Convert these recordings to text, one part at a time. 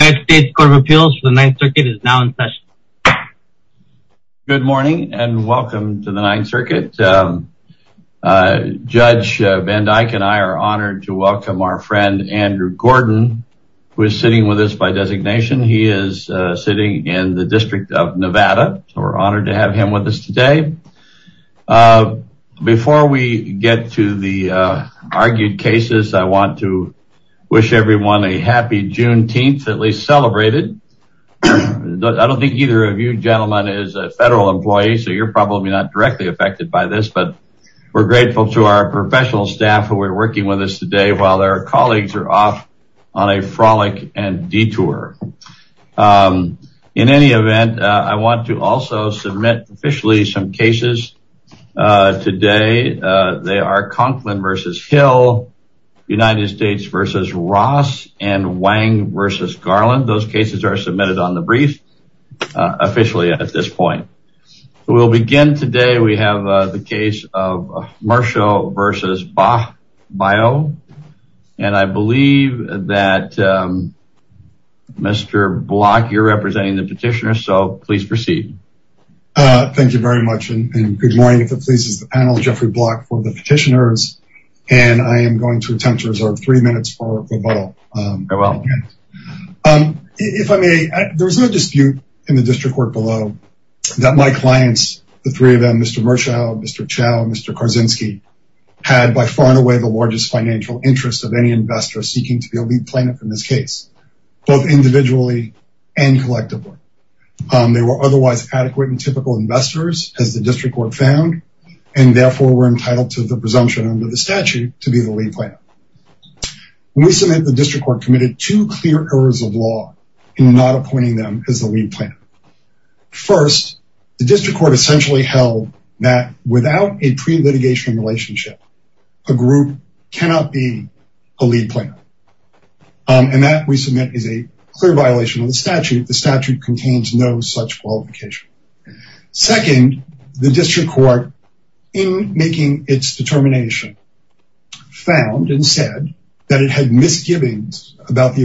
United States Court of Appeals for the Ninth Circuit is now in session. Good morning and welcome to the Ninth Circuit. Judge Van Dyke and I are honored to welcome our friend, Andrew Gordon, who is sitting with us by designation. He is sitting in the District of Nevada, so we're honored to have him with us today. Before we get to the argued cases, I want to wish everyone a happy Juneteenth, at least celebrated. I don't think either of you gentlemen is a federal employee, so you're probably not directly affected by this, but we're grateful to our professional staff who are working with us today while their colleagues are off on a frolic and detour. However, in any event, I want to also submit officially some cases today. They are Conklin v. Hill, United States v. Ross, and Wang v. Garland. Those cases are submitted on the brief officially at this point. We'll begin today. We have the case of Marshall v. Bach-Bio, and I believe that Mr. Block, you're representing the petitioner, so please proceed. Thank you very much and good morning, if it pleases the panel, Jeffrey Block for the petitioners, and I am going to attempt to reserve three minutes for rebuttal. If I may, there was no dispute in the district court below that my clients, the three of them, Mr. Marshall, Mr. Chow, and Mr. Karzinski, had by far and away the largest financial interest of any investor seeking to be a lead planner in this case, both individually and collectively. They were otherwise adequate and typical investors, as the district court found, and therefore were entitled to the presumption under the statute to be the lead planner. We submit that the district court committed two clear errors of law in not appointing them as the lead planner. First, the district court essentially held that without a pre-litigation relationship, a group cannot be a lead planner, and that, we submit, is a clear violation of the statute. The statute contains no such qualification. Second, the district court, in making its determination, found and said that it had a pre-litigation without the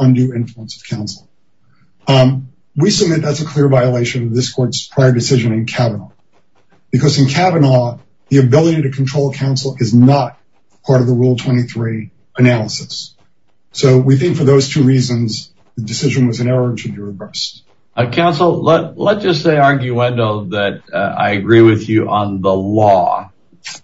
undue influence of counsel. We submit that's a clear violation of this court's prior decision in Kavanaugh, because in Kavanaugh, the ability to control counsel is not part of the Rule 23 analysis. So we think for those two reasons, the decision was an error to be reversed. Counsel, let's just say, arguendo, that I agree with you on the law.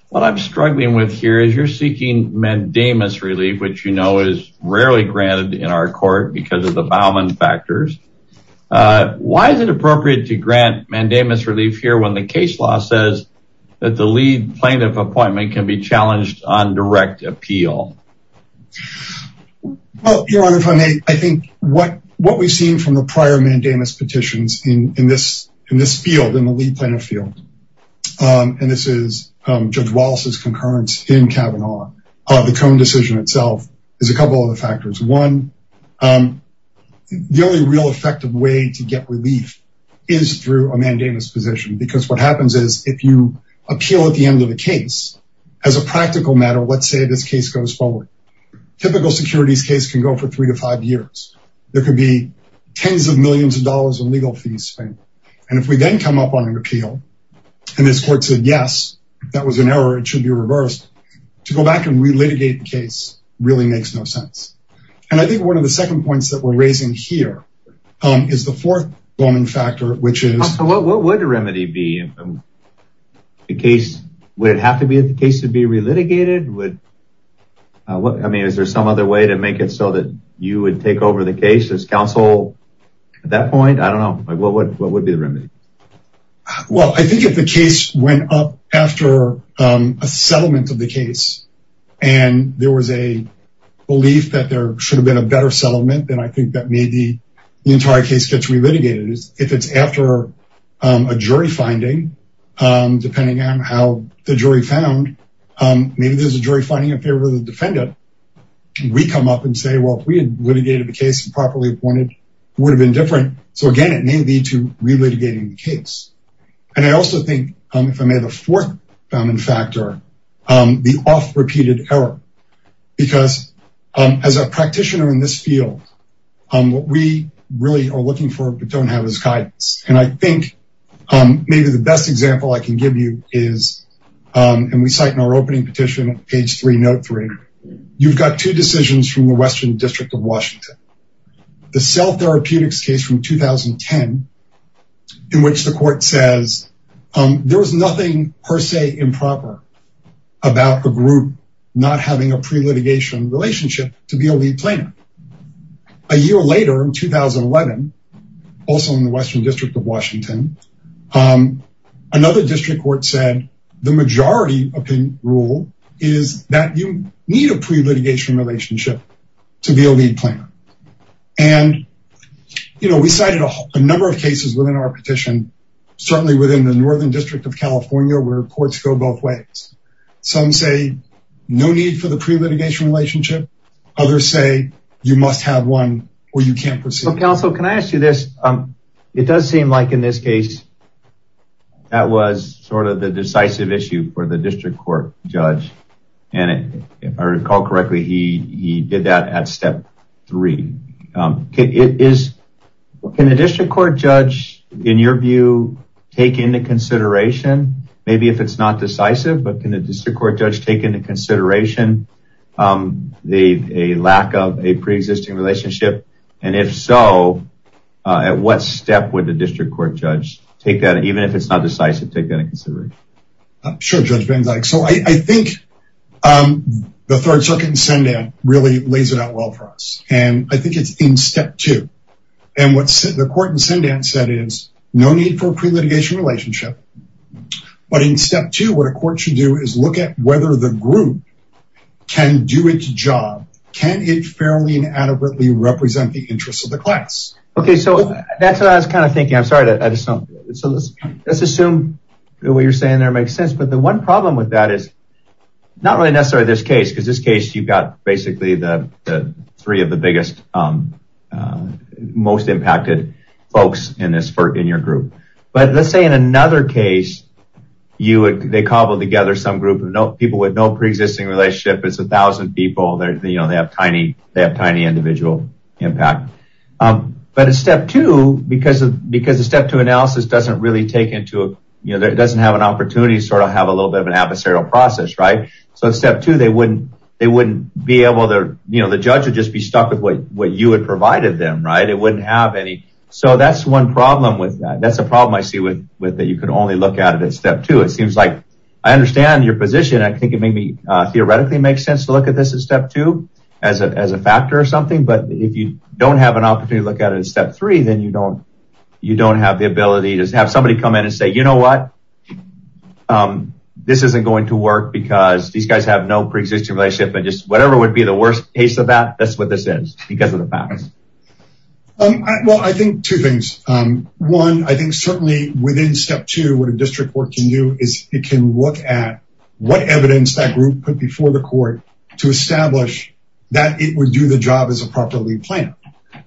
What I'm struggling with here is you're seeking mandamus relief, which you know is rarely granted in our court because of the Bauman factors. Why is it appropriate to grant mandamus relief here when the case law says that the lead plaintiff appointment can be challenged on direct appeal? Well, Your Honor, if I may, I think what we've seen from the prior mandamus petitions in this field, in the lead planner field, and this is Judge Wallace's concurrence in Kavanaugh, the Cohn decision itself, is a couple of other factors. One, the only real effective way to get relief is through a mandamus position. Because what happens is if you appeal at the end of the case, as a practical matter, let's say this case goes forward. Typical securities case can go for three to five years. There could be tens of millions of dollars in legal fees spent. And if we then come up on an appeal, and this court said, yes, that was an error, it should be reversed, to go back and re-litigate the case really makes no sense. And I think one of the second points that we're raising here is the fourth Bauman factor, which is- Counsel, what would the remedy be? Would it have to be that the case would be re-litigated? I mean, is there some other way to make it so that you would take over the case as counsel at that point? I don't know. What would be the remedy? Well, I think if the case went up after a settlement of the case, and there was a belief that there should have been a better settlement, then I think that maybe the entire case gets re-litigated. If it's after a jury finding, depending on how the jury found, maybe there's a jury finding in favor of the defendant. We come up and say, well, if we had litigated the case and properly appointed, it would have been different. So again, it may lead to re-litigating the case. And I also think, if I may, the fourth Bauman factor, the oft-repeated error. Because as a practitioner in this field, what we really are looking for but don't have is guidance. And I think maybe the best example I can give you is, and we cite in our opening petition, page three, note three, you've got two decisions from the Western District of Washington. The self-therapeutics case from 2010, in which the court says, there was nothing per se improper about the group not having a pre-litigation relationship to be a lead planner. A year later, in 2011, also in the Western District of Washington, another district court said, the majority opinion rule is that you need a pre-litigation relationship to be a lead planner. And, you know, we cited a number of cases within our petition, certainly within the Northern District of California, where courts go both ways. Some say, no need for the pre-litigation relationship. Others say, you must have one or you can't proceed. Counsel, can I ask you this? It does seem like in this case, that was sort of the decisive issue for the district court judge. And if I recall correctly, he did that at step three. Can the district court judge, in your view, take into consideration, maybe if it's not decisive, but can the district court judge take into consideration the lack of a pre-existing relationship? And if so, at what step would the district court judge take that, even if it's not decisive, take that into consideration? Sure, Judge Benzike. So I think the Third Circuit in Sundan really lays it out well for us. And I think it's in step two. And what the court in Sundan said is, no need for a pre-litigation relationship. But in step two, what a court should do is look at whether the group can do its job. Can it fairly and adequately represent the interests of the class? Okay, so that's what I was kind of thinking. I'm sorry, I just don't get it. So let's assume what you're saying there makes sense. But the one problem with that is, not really necessarily this case. Because this case, you've got basically the three of the biggest, most impacted folks in your group. But let's say in another case, they cobbled together some group of people with no pre-existing relationship. It's 1,000 people, they have tiny individual impact. But at step two, because the step two analysis doesn't really take into, it doesn't have an opportunity to sort of have a little bit of an adversarial process, right? So step two, they wouldn't be able to, the judge would just be stuck with what you had provided them, right? It wouldn't have any. So that's one problem with that. That's a problem I see with that you could only look at it at step two. It seems like, I understand your position. I think it may theoretically make sense to look at this at step two as a factor or something. But if you don't have an opportunity to look at it at step three, then you don't have the ability to have somebody come in and say, you know what? Um, this isn't going to work because these guys have no pre-existing relationship, but just whatever would be the worst case of that. That's what this is because of the facts. Well, I think two things. One, I think certainly within step two, what a district court can do is it can look at what evidence that group put before the court to establish that it would do the job as a proper lead planner.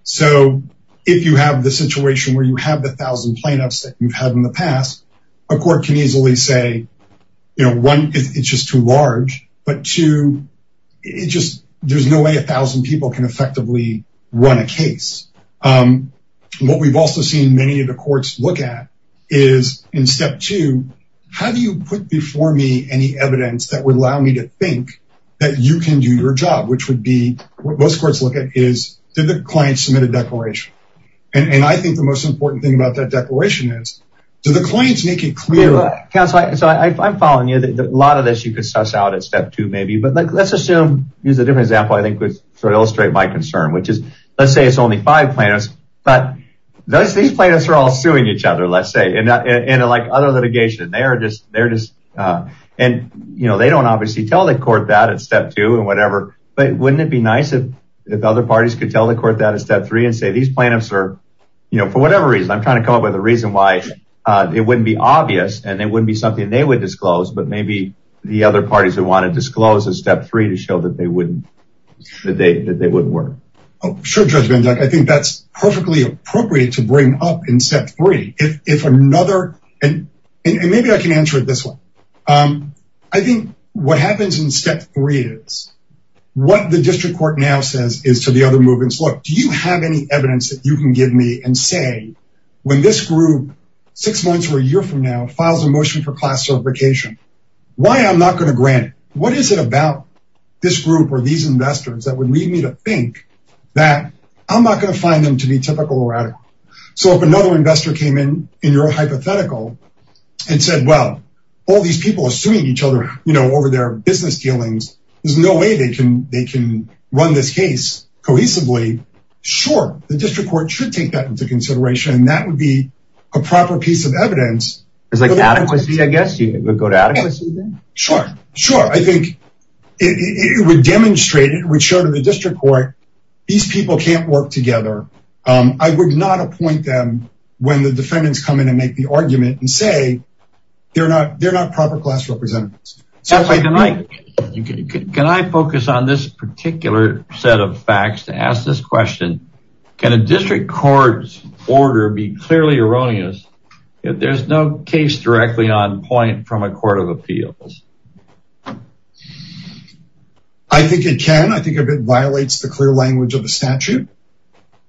So if you have the situation where you have the 1,000 plaintiffs that you've had in the past, a court can easily say, you know, one, it's just too large, but two, it just, there's no way 1,000 people can effectively run a case. What we've also seen many of the courts look at is in step two, how do you put before me any evidence that would allow me to think that you can do your job, which would be what most courts look at is did the client submit a declaration? And I think the most important thing about that declaration is, do the claims make it clear? Counselor, I'm following you that a lot of this you could suss out at step two, maybe, but let's assume, use a different example, I think would sort of illustrate my concern, which is, let's say it's only five plaintiffs, but those, these plaintiffs are all suing each other, let's say, and like other litigation, they are just, they're just, and you know, they don't obviously tell the court that at step two and whatever, but wouldn't it be nice if other parties could tell the court that at step three and say, these plaintiffs are, you know, for whatever reason, I'm trying to come up with a reason why it wouldn't be obvious and it wouldn't be something they would disclose, but maybe the other parties would want to disclose at step three to show that they wouldn't, that they, that they wouldn't work. Oh, sure. Judge Benduck, I think that's perfectly appropriate to bring up in step three. If another, and maybe I can answer it this way. I think what happens in step three is what the district court now says is to the other movements. Look, do you have any evidence that you can give me and say, when this group six months or a year from now files a motion for class certification, why I'm not going to grant it? What is it about this group or these investors that would lead me to think that I'm not going to find them to be typical or radical? So if another investor came in, in your hypothetical and said, well, all these people assuming each other, you know, over their business dealings, there's no way they can, they can run this case cohesively. Sure. The district court should take that into consideration. And that would be a proper piece of evidence. It's like adequacy, I guess you would go to adequacy then? Sure. Sure. I think it would demonstrate, it would show to the district court, these people can't work together. I would not appoint them when the defendants come in and make the argument and say, they're not, they're not proper class representatives. Can I focus on this particular set of facts to ask this question? Can a district court's order be clearly erroneous if there's no case directly on point from a court of appeals? I think it can. I think it violates the clear language of the statute.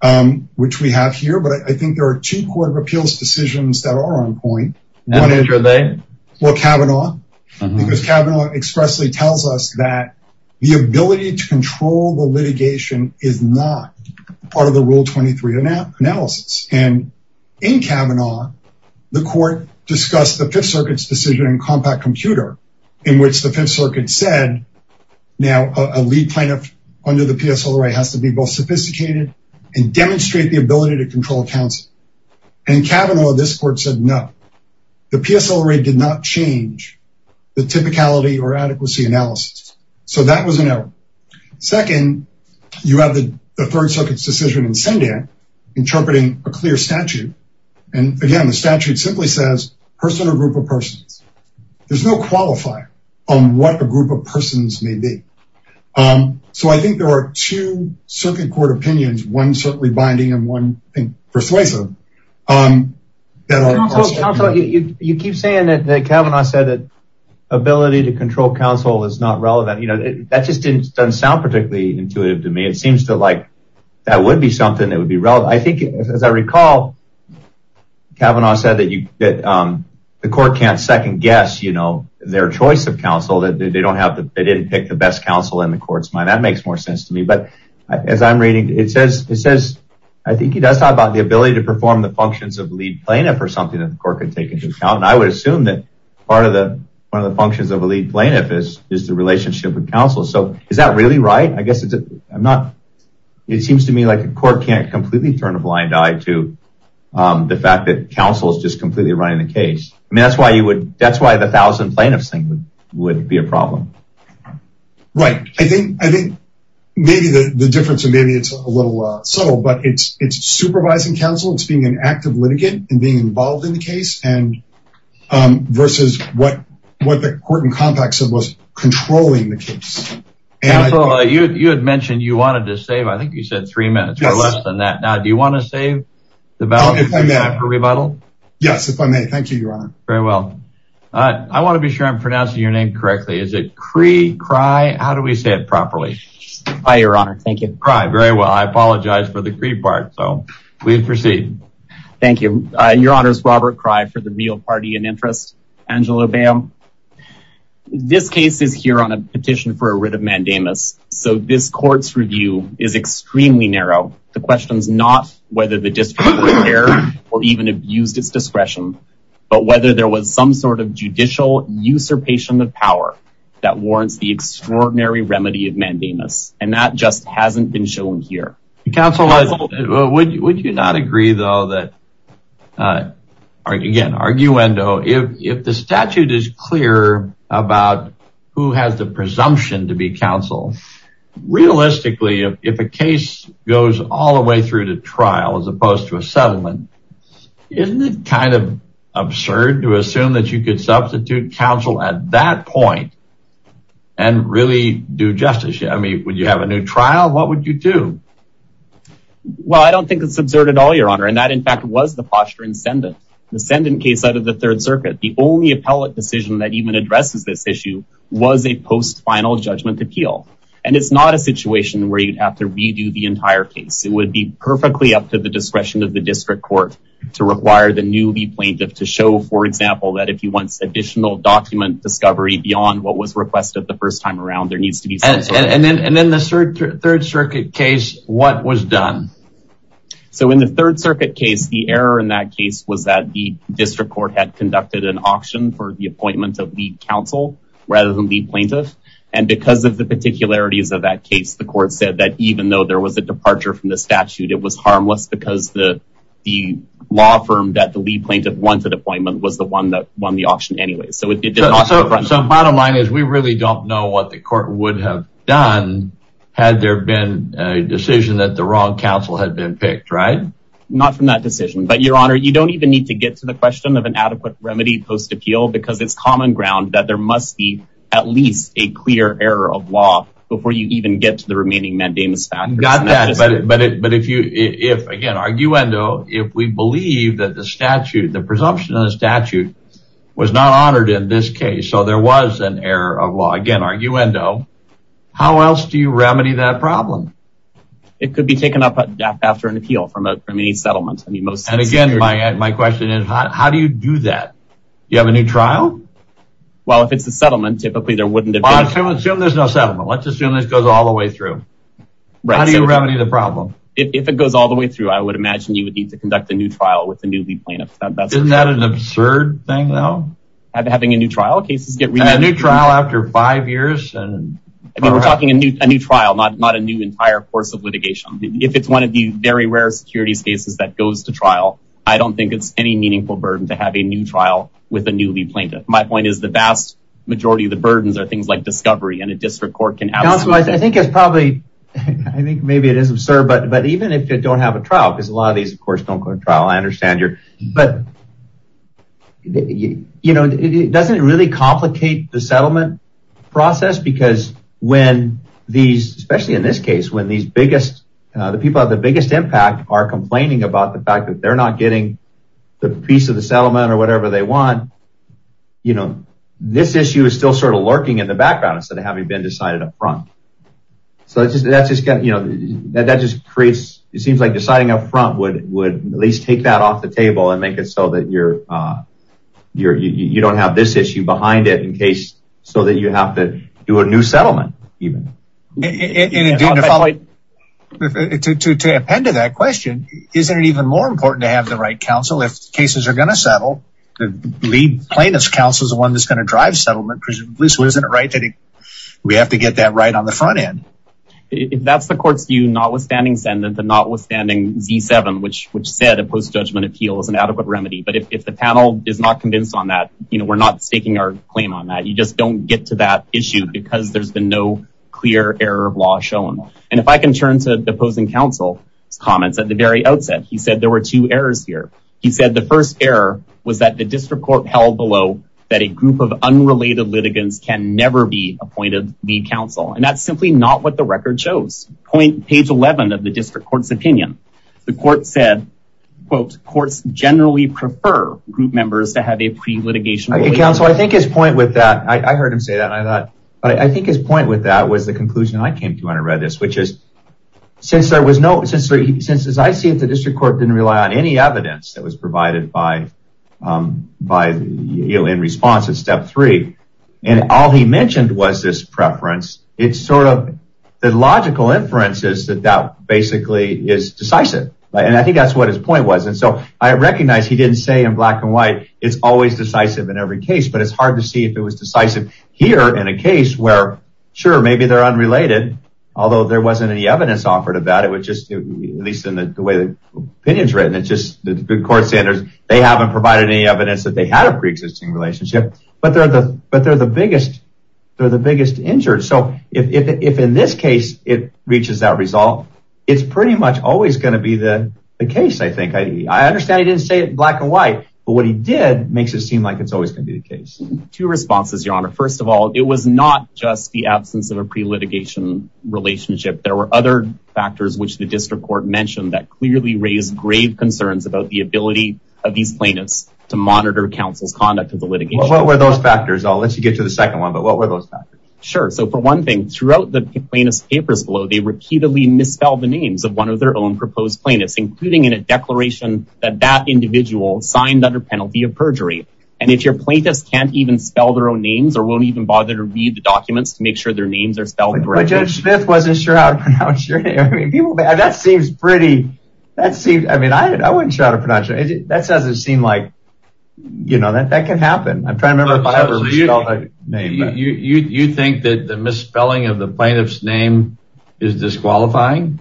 Um, which we have here, but I think there are two court of appeals decisions that are on point. And which are they? Well, Kavanaugh, because Kavanaugh expressly tells us that the ability to control the litigation is not part of the rule 23 analysis. And in Kavanaugh, the court discussed the Fifth Circuit's decision in Compact Computer, in which the Fifth Circuit said, now a lead plaintiff under the PSLRA has to be both sophisticated and demonstrate the ability to control counsel. And Kavanaugh, this court said, no, the PSLRA did not change the typicality or adequacy analysis. So that was an error. Second, you have the Third Circuit's decision in Sendai interpreting a clear statute. And again, the statute simply says person or group of persons. There's no qualifier on what a group of persons may be. Um, so I think there are two circuit court opinions. One certainly binding, and one persuasive. Um, you keep saying that Kavanaugh said that ability to control counsel is not relevant. You know, that just didn't sound particularly intuitive to me. It seems to like that would be something that would be relevant. I think, as I recall, Kavanaugh said that the court can't second guess, you know, their choice of counsel. They didn't pick the best counsel in the court's mind. That makes more sense to me. But as I'm reading, it says, I think he does talk about the ability to perform the functions of lead plaintiff or something that the court could take into account. And I would assume that part of the functions of a lead plaintiff is the relationship with counsel. So is that really right? I guess it's, I'm not, it seems to me like the court can't completely turn a blind eye to the fact that counsel is just completely running the case. I mean, that's why you would, that's why the thousand plaintiffs thing would be a problem. Right. I think, I think maybe the difference, and maybe it's a little subtle, but it's, it's supervising counsel. It's being an active litigant and being involved in the case. And, um, versus what, what the court in context of was controlling the case. And you had mentioned you wanted to save, I think you said three minutes or less than that. Now, do you want to save the time for rebuttal? Yes. If I may. Thank you, your honor. Very well. Uh, I want to be sure I'm pronouncing your name correctly. Is it Cree, Cry? How do we say it properly? Hi, your honor. Thank you. Cry. Very well. I apologize for the Cree part. So please proceed. Thank you. Your honors, Robert Cry for the real party and interest, Angela Bam. This case is here on a petition for a writ of mandamus. So this court's review is extremely narrow. The question's not whether the district was there or even abused its discretion, but whether there was some sort of judicial usurpation of power that warrants the extraordinary remedy of mandamus. And that just hasn't been shown here. Counsel, would you not agree though that, uh, again, arguendo, if, if the statute is clear about who has the presumption to be counsel. Realistically, if a case goes all the way through to trial, as opposed to a settlement, isn't it kind of absurd to assume that you could substitute counsel at that point and really do justice? I mean, would you have a new trial? What would you do? Well, I don't think it's absurd at all, your honor. And that in fact was the posture in Senden, the Senden case out of the third circuit. The only appellate decision that even addresses this issue was a post-final judgment appeal. And it's not a situation where you'd have to redo the entire case. It would be perfectly up to the discretion of the district court to require the newly plaintiff to show, for example, that if you want additional document discovery beyond what was requested the first time around, there needs to be. And then, and then the third, third circuit case, what was done? So in the third circuit case, the error in that case was that the district court had conducted an auction for the appointment of the counsel rather than the plaintiff. And because of the particularities of that case, the court said that even though there was a departure from the statute, it was harmless because the, the law firm that the lead plaintiff wanted appointment was the one that won the auction anyways. So bottom line is we really don't know what the court would have done had there been a decision that the wrong counsel had been picked, right? Not from that decision, but your honor, you don't even need to get to the question of an adequate remedy post appeal, because it's common ground that there must be at least a clear error of law before you even get to the remaining mandamus factors. Got that, but, but if you, if, again, arguendo, if we believe that the statute, the presumption of the statute was not honored in this case, so there was an error of law, again, arguendo, how else do you remedy that problem? It could be taken up after an appeal from a, from any settlement. I mean, most, and again, my, my question is how do you do that? Do you have a new trial? Well, if it's a settlement, typically there wouldn't have been. Assume there's no settlement. Let's assume this goes all the way through. How do you remedy the problem? If it goes all the way through, I would imagine you would need to conduct a new trial with a newly plaintiff. Isn't that an absurd thing though? Having a new trial, cases get renewed. And a new trial after five years? I mean, we're talking a new, a new trial, not, not a new entire course of litigation. If it's one of the very rare securities cases that goes to trial, I don't think it's any new plaintiff. My point is the vast majority of the burdens are things like discovery and a district court can ask. I think it's probably, I think maybe it is absurd, but, but even if you don't have a trial, because a lot of these, of course, don't go to trial. I understand your, but you know, it doesn't really complicate the settlement process because when these, especially in this case, when these biggest, the people have the biggest impact are complaining about the fact that they're not getting the piece of the settlement or whatever they want, you know, this issue is still sort of lurking in the background instead of having been decided up front. So that's just kind of, you know, that, that just creates, it seems like deciding up front would, would at least take that off the table and make it so that you're, you're, you don't have this issue behind it in case, so that you have to do a new settlement. Even to, to, to, to append to that question, isn't it even more important to have the right counsel, if cases are going to settle, the lead plaintiff's counsel is the one that's going to drive settlement, presumably. So isn't it right that we have to get that right on the front end? If that's the court's view, notwithstanding sentence and notwithstanding Z7, which, which said a post-judgment appeal is an adequate remedy. But if the panel is not convinced on that, you know, we're not staking our claim on that. You just don't get to that issue because there's been no clear error of law shown. And if I can turn to the opposing counsel's comments at the very outset, he said there were two errors here. He said the first error was that the district court held below that a group of unrelated litigants can never be appointed lead counsel. And that's simply not what the record shows. Point page 11 of the district court's opinion. The court said, quote, courts generally prefer group members to have a pre-litigation counsel. I think his point with that, I heard him say that. And I thought, I think his point with that was the conclusion I came to when I read this, which is since there was no, since, as I see it, the district court didn't rely on any evidence that was provided by, by, you know, in response to step three. And all he mentioned was this preference. It's sort of the logical inferences that that basically is decisive. And I think that's what his point was. And so I recognize he didn't say in black and white, it's always decisive in every case, but it's hard to see if it was decisive here in a case where, sure, maybe they're unrelated, although there wasn't any evidence offered about it. It was just, at least in the way the opinion's written, it's just the court standards, they haven't provided any evidence that they had a pre-existing relationship, but they're the, but they're the biggest, they're the biggest injured. So if, if, if in this case, it reaches that result, it's pretty much always going to be the case. I think I, I understand he didn't say it black and white, but what he did makes it seem like it's always going to be the case. Two responses, your honor. First of all, it was not just the absence of a pre-litigation relationship. There were other factors, which the district court mentioned, that clearly raised grave concerns about the ability of these plaintiffs to monitor counsel's conduct of the litigation. What were those factors? I'll let you get to the second one, but what were those factors? Sure. So for one thing, throughout the plaintiff's papers below, they repeatedly misspelled the names of one of their own proposed plaintiffs, including in a declaration that that individual signed under penalty of perjury. And if your plaintiffs can't even spell their own names or won't even bother to read the documents to make sure their names are spelled. But Judge Smith wasn't sure how to pronounce your name. I mean, that seems pretty, that seems, I mean, I wouldn't try to pronounce it. That doesn't seem like, you know, that that can happen. I'm trying to remember if I ever misspelled a name. You, you, you think that the misspelling of the plaintiff's name is disqualifying?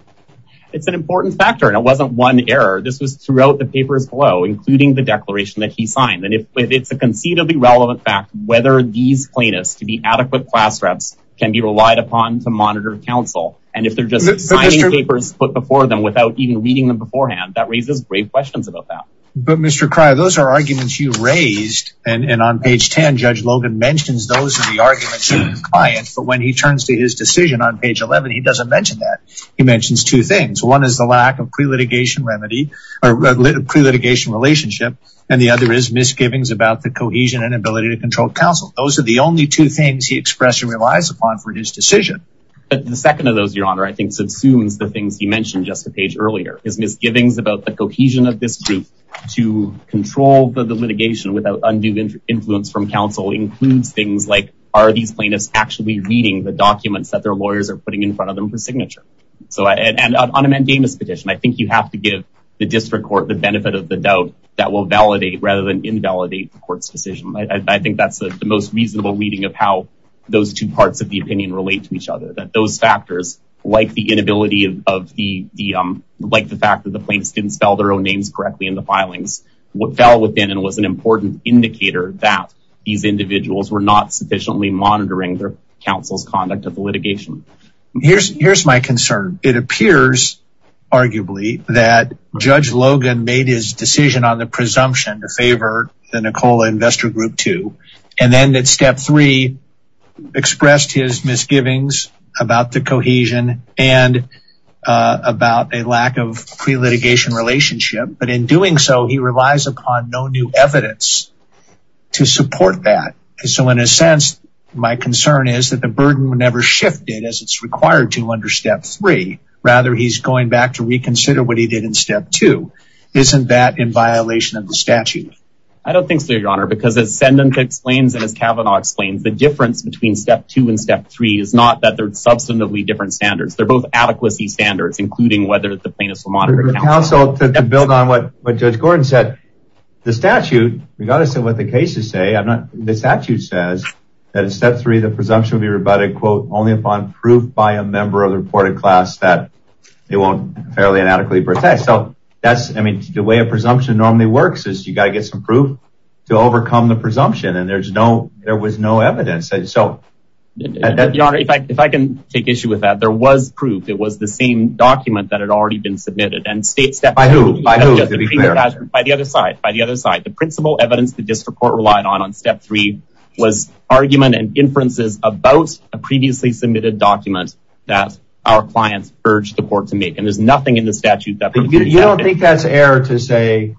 It's an important factor and it wasn't one error. This was throughout the papers below, including the declaration that he signed. And if it's a conceivably relevant fact, whether these plaintiffs to be adequate class reps can be relied upon to monitor counsel. And if they're just signing papers put before them without even reading them beforehand, that raises grave questions about that. But Mr. Cryer, those are arguments you raised. And on page 10, Judge Logan mentions those arguments to the client. But when he turns to his decision on page 11, he doesn't mention that. He mentions two things. One is the lack of pre-litigation remedy or pre-litigation relationship. And the other is misgivings about the cohesion and ability to control counsel. Those are the only two things he expressed and relies upon for his decision. But the second of those, your honor, I think, subsumes the things you mentioned just a page earlier. His misgivings about the cohesion of this group to control the litigation without undue influence from counsel includes things like, are these plaintiffs actually reading the documents that their lawyers are putting in front of them for signature? So, and on a mandamus petition, I think you have to give the district court the benefit of the doubt that will validate rather than invalidate the court's decision. I think that's the most reasonable reading of how those two parts of the opinion relate to each other. That those factors, like the inability of the, like the fact that the plaintiffs didn't spell their own names correctly in the filings, what fell within and was an important indicator that these individuals were not sufficiently monitoring their counsel's conduct of the litigation. Here's my concern. It appears, arguably, that Judge Logan made his decision on the presumption to favor the Nicola Investor Group 2. And then that step three expressed his misgivings about the cohesion and about a lack of pre-litigation relationship. But in doing so, he relies upon no new evidence to support that. So in a sense, my concern is that the burden would never shift it required to under step three. Rather, he's going back to reconsider what he did in step two. Isn't that in violation of the statute? I don't think so, your honor. Because as ascendant explains and as Kavanaugh explains, the difference between step two and step three is not that they're substantively different standards. They're both adequacy standards, including whether the plaintiffs will monitor counsel. To build on what Judge Gordon said, the statute, regardless of what the cases say, I'm not, the statute says that in step three, the presumption will be rebutted, quote, only upon proof by a member of the reported class that they won't fairly inadequately protest. So that's, I mean, the way a presumption normally works is you got to get some proof to overcome the presumption. And there's no, there was no evidence. So, your honor, if I can take issue with that, there was proof. It was the same document that had already been submitted. And step three, by the other side, by the other side, the principal evidence the district court relied on, step three, was argument and inferences about a previously submitted document that our clients urged the court to make. And there's nothing in the statute that- You don't think that's error to say,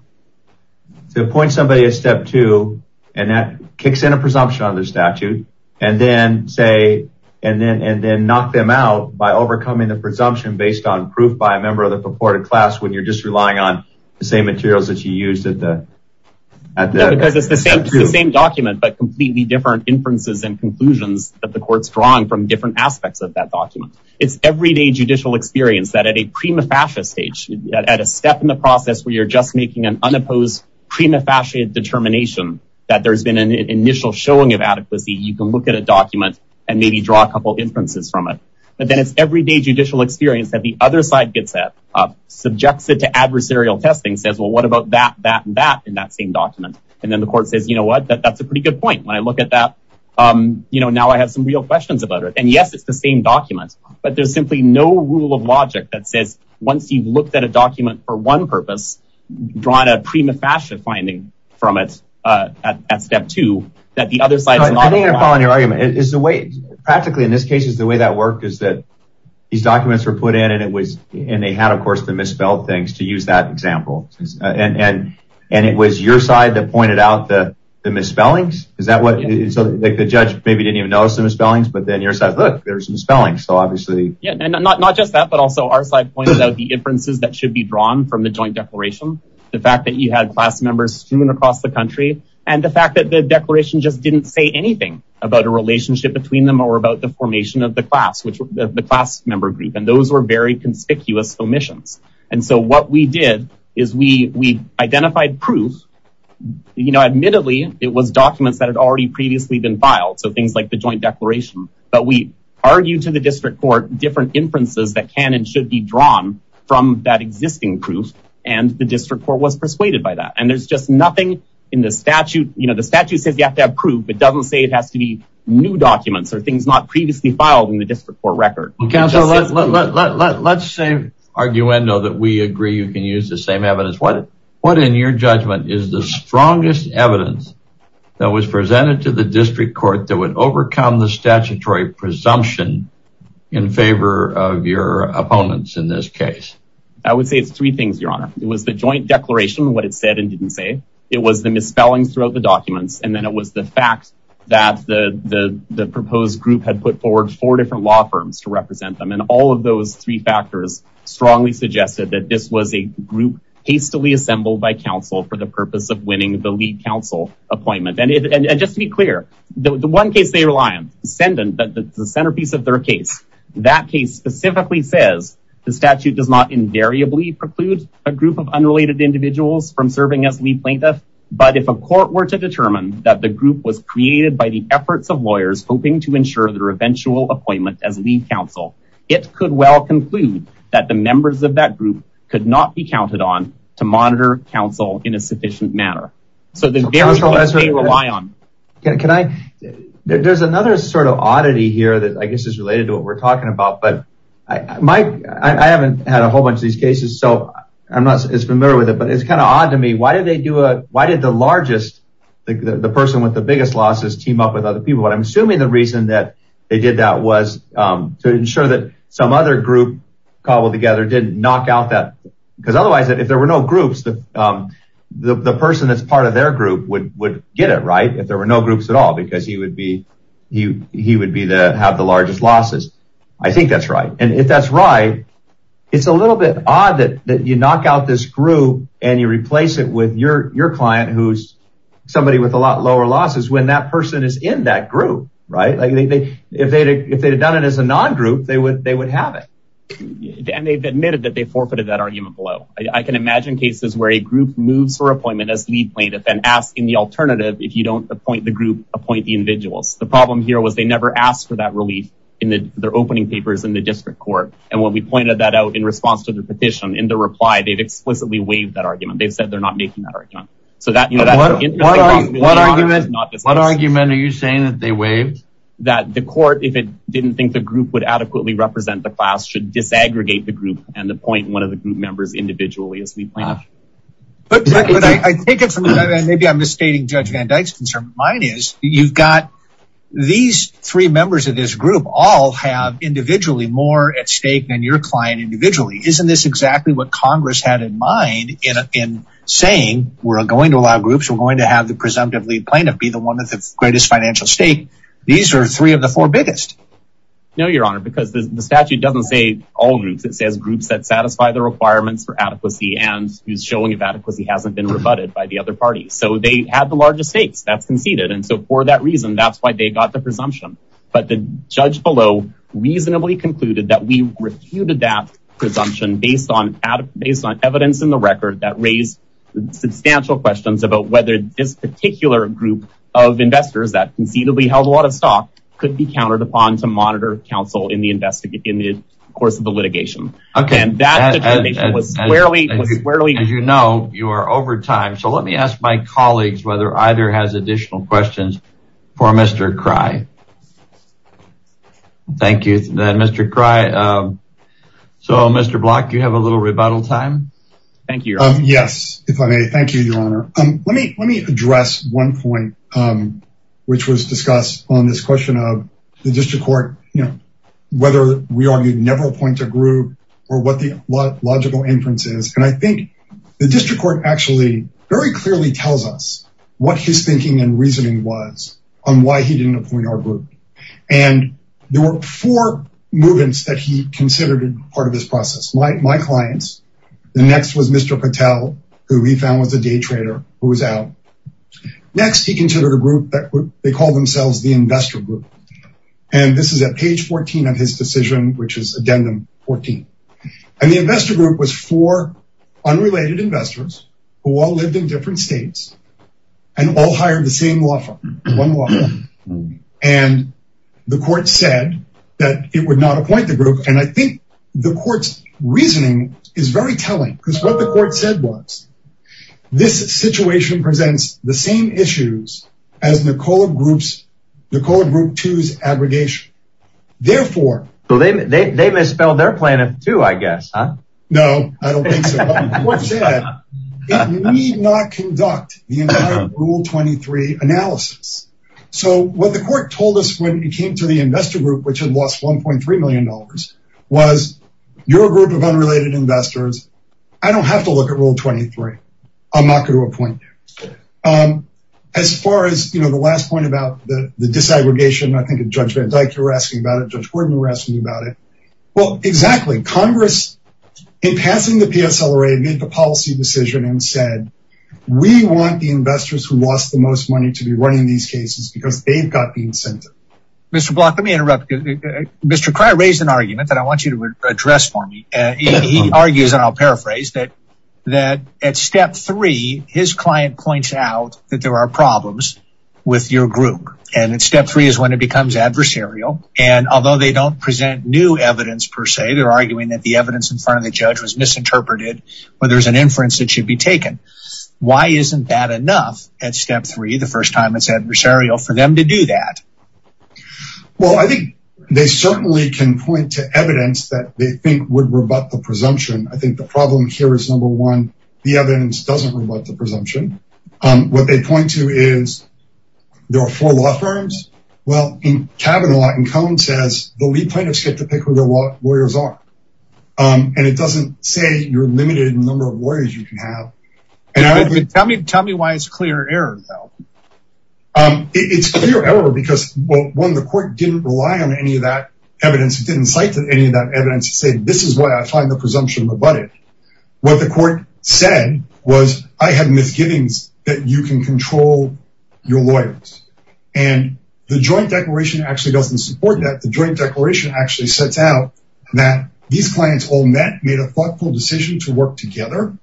to appoint somebody at step two, and that kicks in a presumption on their statute, and then say, and then knock them out by overcoming the presumption based on proof by a member of the reported class, when you're just relying on the same materials that you used at the, at the- No, because it's the same document, but completely different inferences and conclusions that the court's drawing from different aspects of that document. It's everyday judicial experience that at a prima facie stage, at a step in the process where you're just making an unopposed prima facie determination, that there's been an initial showing of adequacy, you can look at a document and maybe draw a couple inferences from it. But then it's everyday judicial experience that the other side gets up, subjects it to adversarial testing, says, well, what about that, that, and that in that same document? And then the court says, you know what, that's a pretty good point. When I look at that, you know, now I have some real questions about it. And yes, it's the same document, but there's simply no rule of logic that says, once you've looked at a document for one purpose, drawn a prima facie finding from it at step two, that the other side's not- I think I'm following your argument. Is the way, practically in this case, is the way that worked is that these documents were put in and it was, and they had, of course, the misspelled things to use that example. And it was your side that pointed out the misspellings? Is that what, so like the judge maybe didn't even notice the misspellings, but then your side, look, there's some spellings. So obviously- Yeah, and not just that, but also our side pointed out the inferences that should be drawn from the joint declaration. The fact that you had class members strewn across the country, and the fact that the declaration just didn't say anything about a relationship between them or about the formation of the class, which the class member group, and those were very conspicuous omissions. And so what we did is we identified proof. Admittedly, it was documents that had already previously been filed. So things like the joint declaration, but we argued to the district court, different inferences that can and should be drawn from that existing proof. And the district court was persuaded by that. And there's just nothing in the statute. The statute says you have to have proof, but doesn't say it has to be new documents or things not previously filed in the district court record. Counselor, let's say arguendo that we agree you can use the same evidence. What in your judgment is the strongest evidence that was presented to the district court that would overcome the statutory presumption in favor of your opponents in this case? I would say it's three things, your honor. It was the joint declaration, what it said and didn't say. It was the misspellings throughout the documents. And then it was the fact that the proposed group had put forward four different law firms to represent them. And all of those three factors strongly suggested that this was a group hastily assembled by counsel for the purpose of winning the lead counsel appointment. And just to be clear, the one case they rely on, the centerpiece of their case, that case specifically says the statute does not invariably preclude a group of unrelated individuals from serving as lead plaintiff. But if a court were to determine that the group was created by the efforts of lawyers, hoping to ensure their eventual appointment as lead counsel, it could well conclude that the members of that group could not be counted on to monitor counsel in a sufficient manner. So there's various things they rely on. Can I, there's another sort of oddity here that I guess is related to what we're talking about, but I haven't had a whole bunch of these cases. So I'm not as familiar with it, but it's kind of odd to me. Why did the largest, the person with the biggest losses team up with other people? But I'm assuming the reason that they did that was to ensure that some other group cobbled together didn't knock out that. Because otherwise, if there were no groups, the person that's part of their group would get it, right? If there were no groups at all, because he would be the, have the largest losses. I think that's right. And if that's right, it's a little bit odd that you knock out this group and you replace it with your client, who's somebody with a lot lower losses when that person is in that group, right? If they'd have done it as a non-group, they would have it. And they've admitted that they forfeited that argument below. I can imagine cases where a group moves for appointment as lead plaintiff and ask in the alternative, if you don't appoint the group, appoint the individuals. The problem here was they never asked for that relief in their opening papers in the district court. And when we pointed that out in response to the petition, in the reply, they'd explicitly waived that argument. They've said they're not making that argument. So that, you know, that interestingly is not the case. What argument are you saying that they waived? That the court, if it didn't think the group would adequately represent the class, should disaggregate the group and appoint one of the group members individually as lead plaintiff? But I take it from that, and maybe I'm misstating Judge Van Dyke's concern. Mine is, you've got these three members of this group all have individually more at stake than your client individually. Isn't this exactly what Congress had in mind in saying, we're going to allow groups, we're going to have the presumptive lead plaintiff be the one with the greatest financial stake. These are three of the four biggest. No, Your Honor, because the statute doesn't say all groups. It says groups that satisfy the requirements for adequacy and who's showing if adequacy hasn't been rebutted by the other parties. So they had the largest stakes, that's conceded. And so for that reason, that's why they got the presumption. But the judge below reasonably concluded that we refuted that presumption based on evidence in the record that raised substantial questions about whether this particular group of investors that conceivably held a lot of stock could be countered upon to monitor counsel in the course of the litigation. And that determination was squarely- As you know, you are over time. So let me ask my colleagues whether either has additional questions for Mr. Cry. Thank you, Mr. Cry. So Mr. Block, you have a little rebuttal time. Thank you, Your Honor. Yes, if I may. Thank you, Your Honor. Let me address one point which was discussed on this question of the district court, whether we argue never appoint a group or what the logical inference is. And I think the district court actually very clearly tells us what his thinking and reasoning was on why he didn't appoint our group. And there were four movements that he considered part of this process. My clients, the next was Mr. Patel, who he found was a day trader who was out. Next, he considered a group that they call themselves the investor group. And this is at page 14 of his decision, which is addendum 14. And the investor group was four unrelated investors who all lived in different states and all hired the same law firm, one law firm. And the court said that it would not appoint the group. And I think the court's reasoning is very telling because what the court said was, this situation presents the same issues as Nicola group two's aggregation. Therefore- So they misspelled their plan of two, I guess, huh? No, I don't think so. But the court said it need not conduct the entire rule 23 analysis. So what the court told us when it came to the investor group, which had lost $1.3 million was your group of unrelated investors I don't have to look at rule 23. I'm not going to appoint you. As far as the last point about the disaggregation, I think of Judge Van Dyke, you were asking about it. Judge Gordon, you were asking about it. Well, exactly. Congress, in passing the PSLRA, made the policy decision and said, we want the investors who lost the most money to be running these cases because they've got the incentive. Mr. Block, let me interrupt. Mr. Cryer raised an argument that I want you to address for me. He argues, and I'll paraphrase, that at step three, his client points out that there are problems with your group. And at step three is when it becomes adversarial. And although they don't present new evidence per se, they're arguing that the evidence in front of the judge was misinterpreted or there's an inference that should be taken. Why isn't that enough at step three, the first time it's adversarial for them to do that? Well, I think they certainly can point to evidence that they think would rebut the presumption. I think the problem here is, number one, the evidence doesn't rebut the presumption. What they point to is, there are four law firms. Well, in Kavanaugh, in Cohen says, the lead plaintiffs get to pick who their lawyers are. And it doesn't say your limited number of lawyers you can have. Tell me why it's clear error, though. It's clear error because, well, one, the court didn't rely on any of that evidence. It didn't cite any of that evidence to say, this is why I find the presumption rebutted. What the court said was, I had misgivings that you can control your lawyers. And the joint declaration actually doesn't support that. The joint declaration actually sets out that these clients all met, made a thoughtful decision to work together.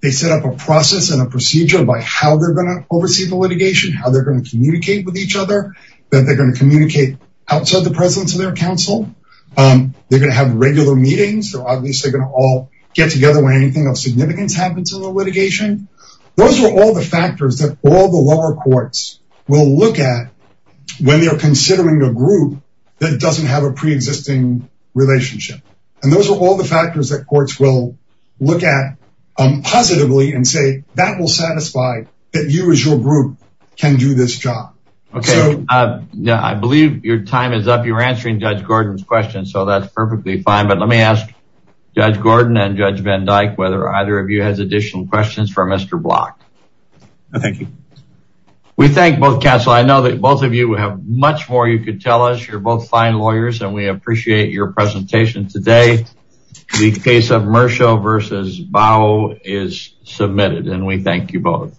They set up a process and a procedure by how they're gonna oversee the litigation, how they're gonna communicate with each other, that they're gonna communicate outside the presence of their counsel. They're gonna have regular meetings. They're obviously gonna all get together when anything of significance happens in the litigation. Those are all the factors that all the lower courts will look at when they're considering a group that doesn't have a preexisting relationship. And those are all the factors that courts will look at positively and say, that will satisfy that you as your group can do this job. Okay. I believe your time is up. You're answering Judge Gordon's question. So that's perfectly fine. But let me ask Judge Gordon and Judge Van Dyke, whether either of you has additional questions for Mr. Block. Thank you. We thank both counsel. I know that both of you have much more you could tell us. You're both fine lawyers and we appreciate your presentation today. The case of Mersha versus Bao is submitted and we thank you both.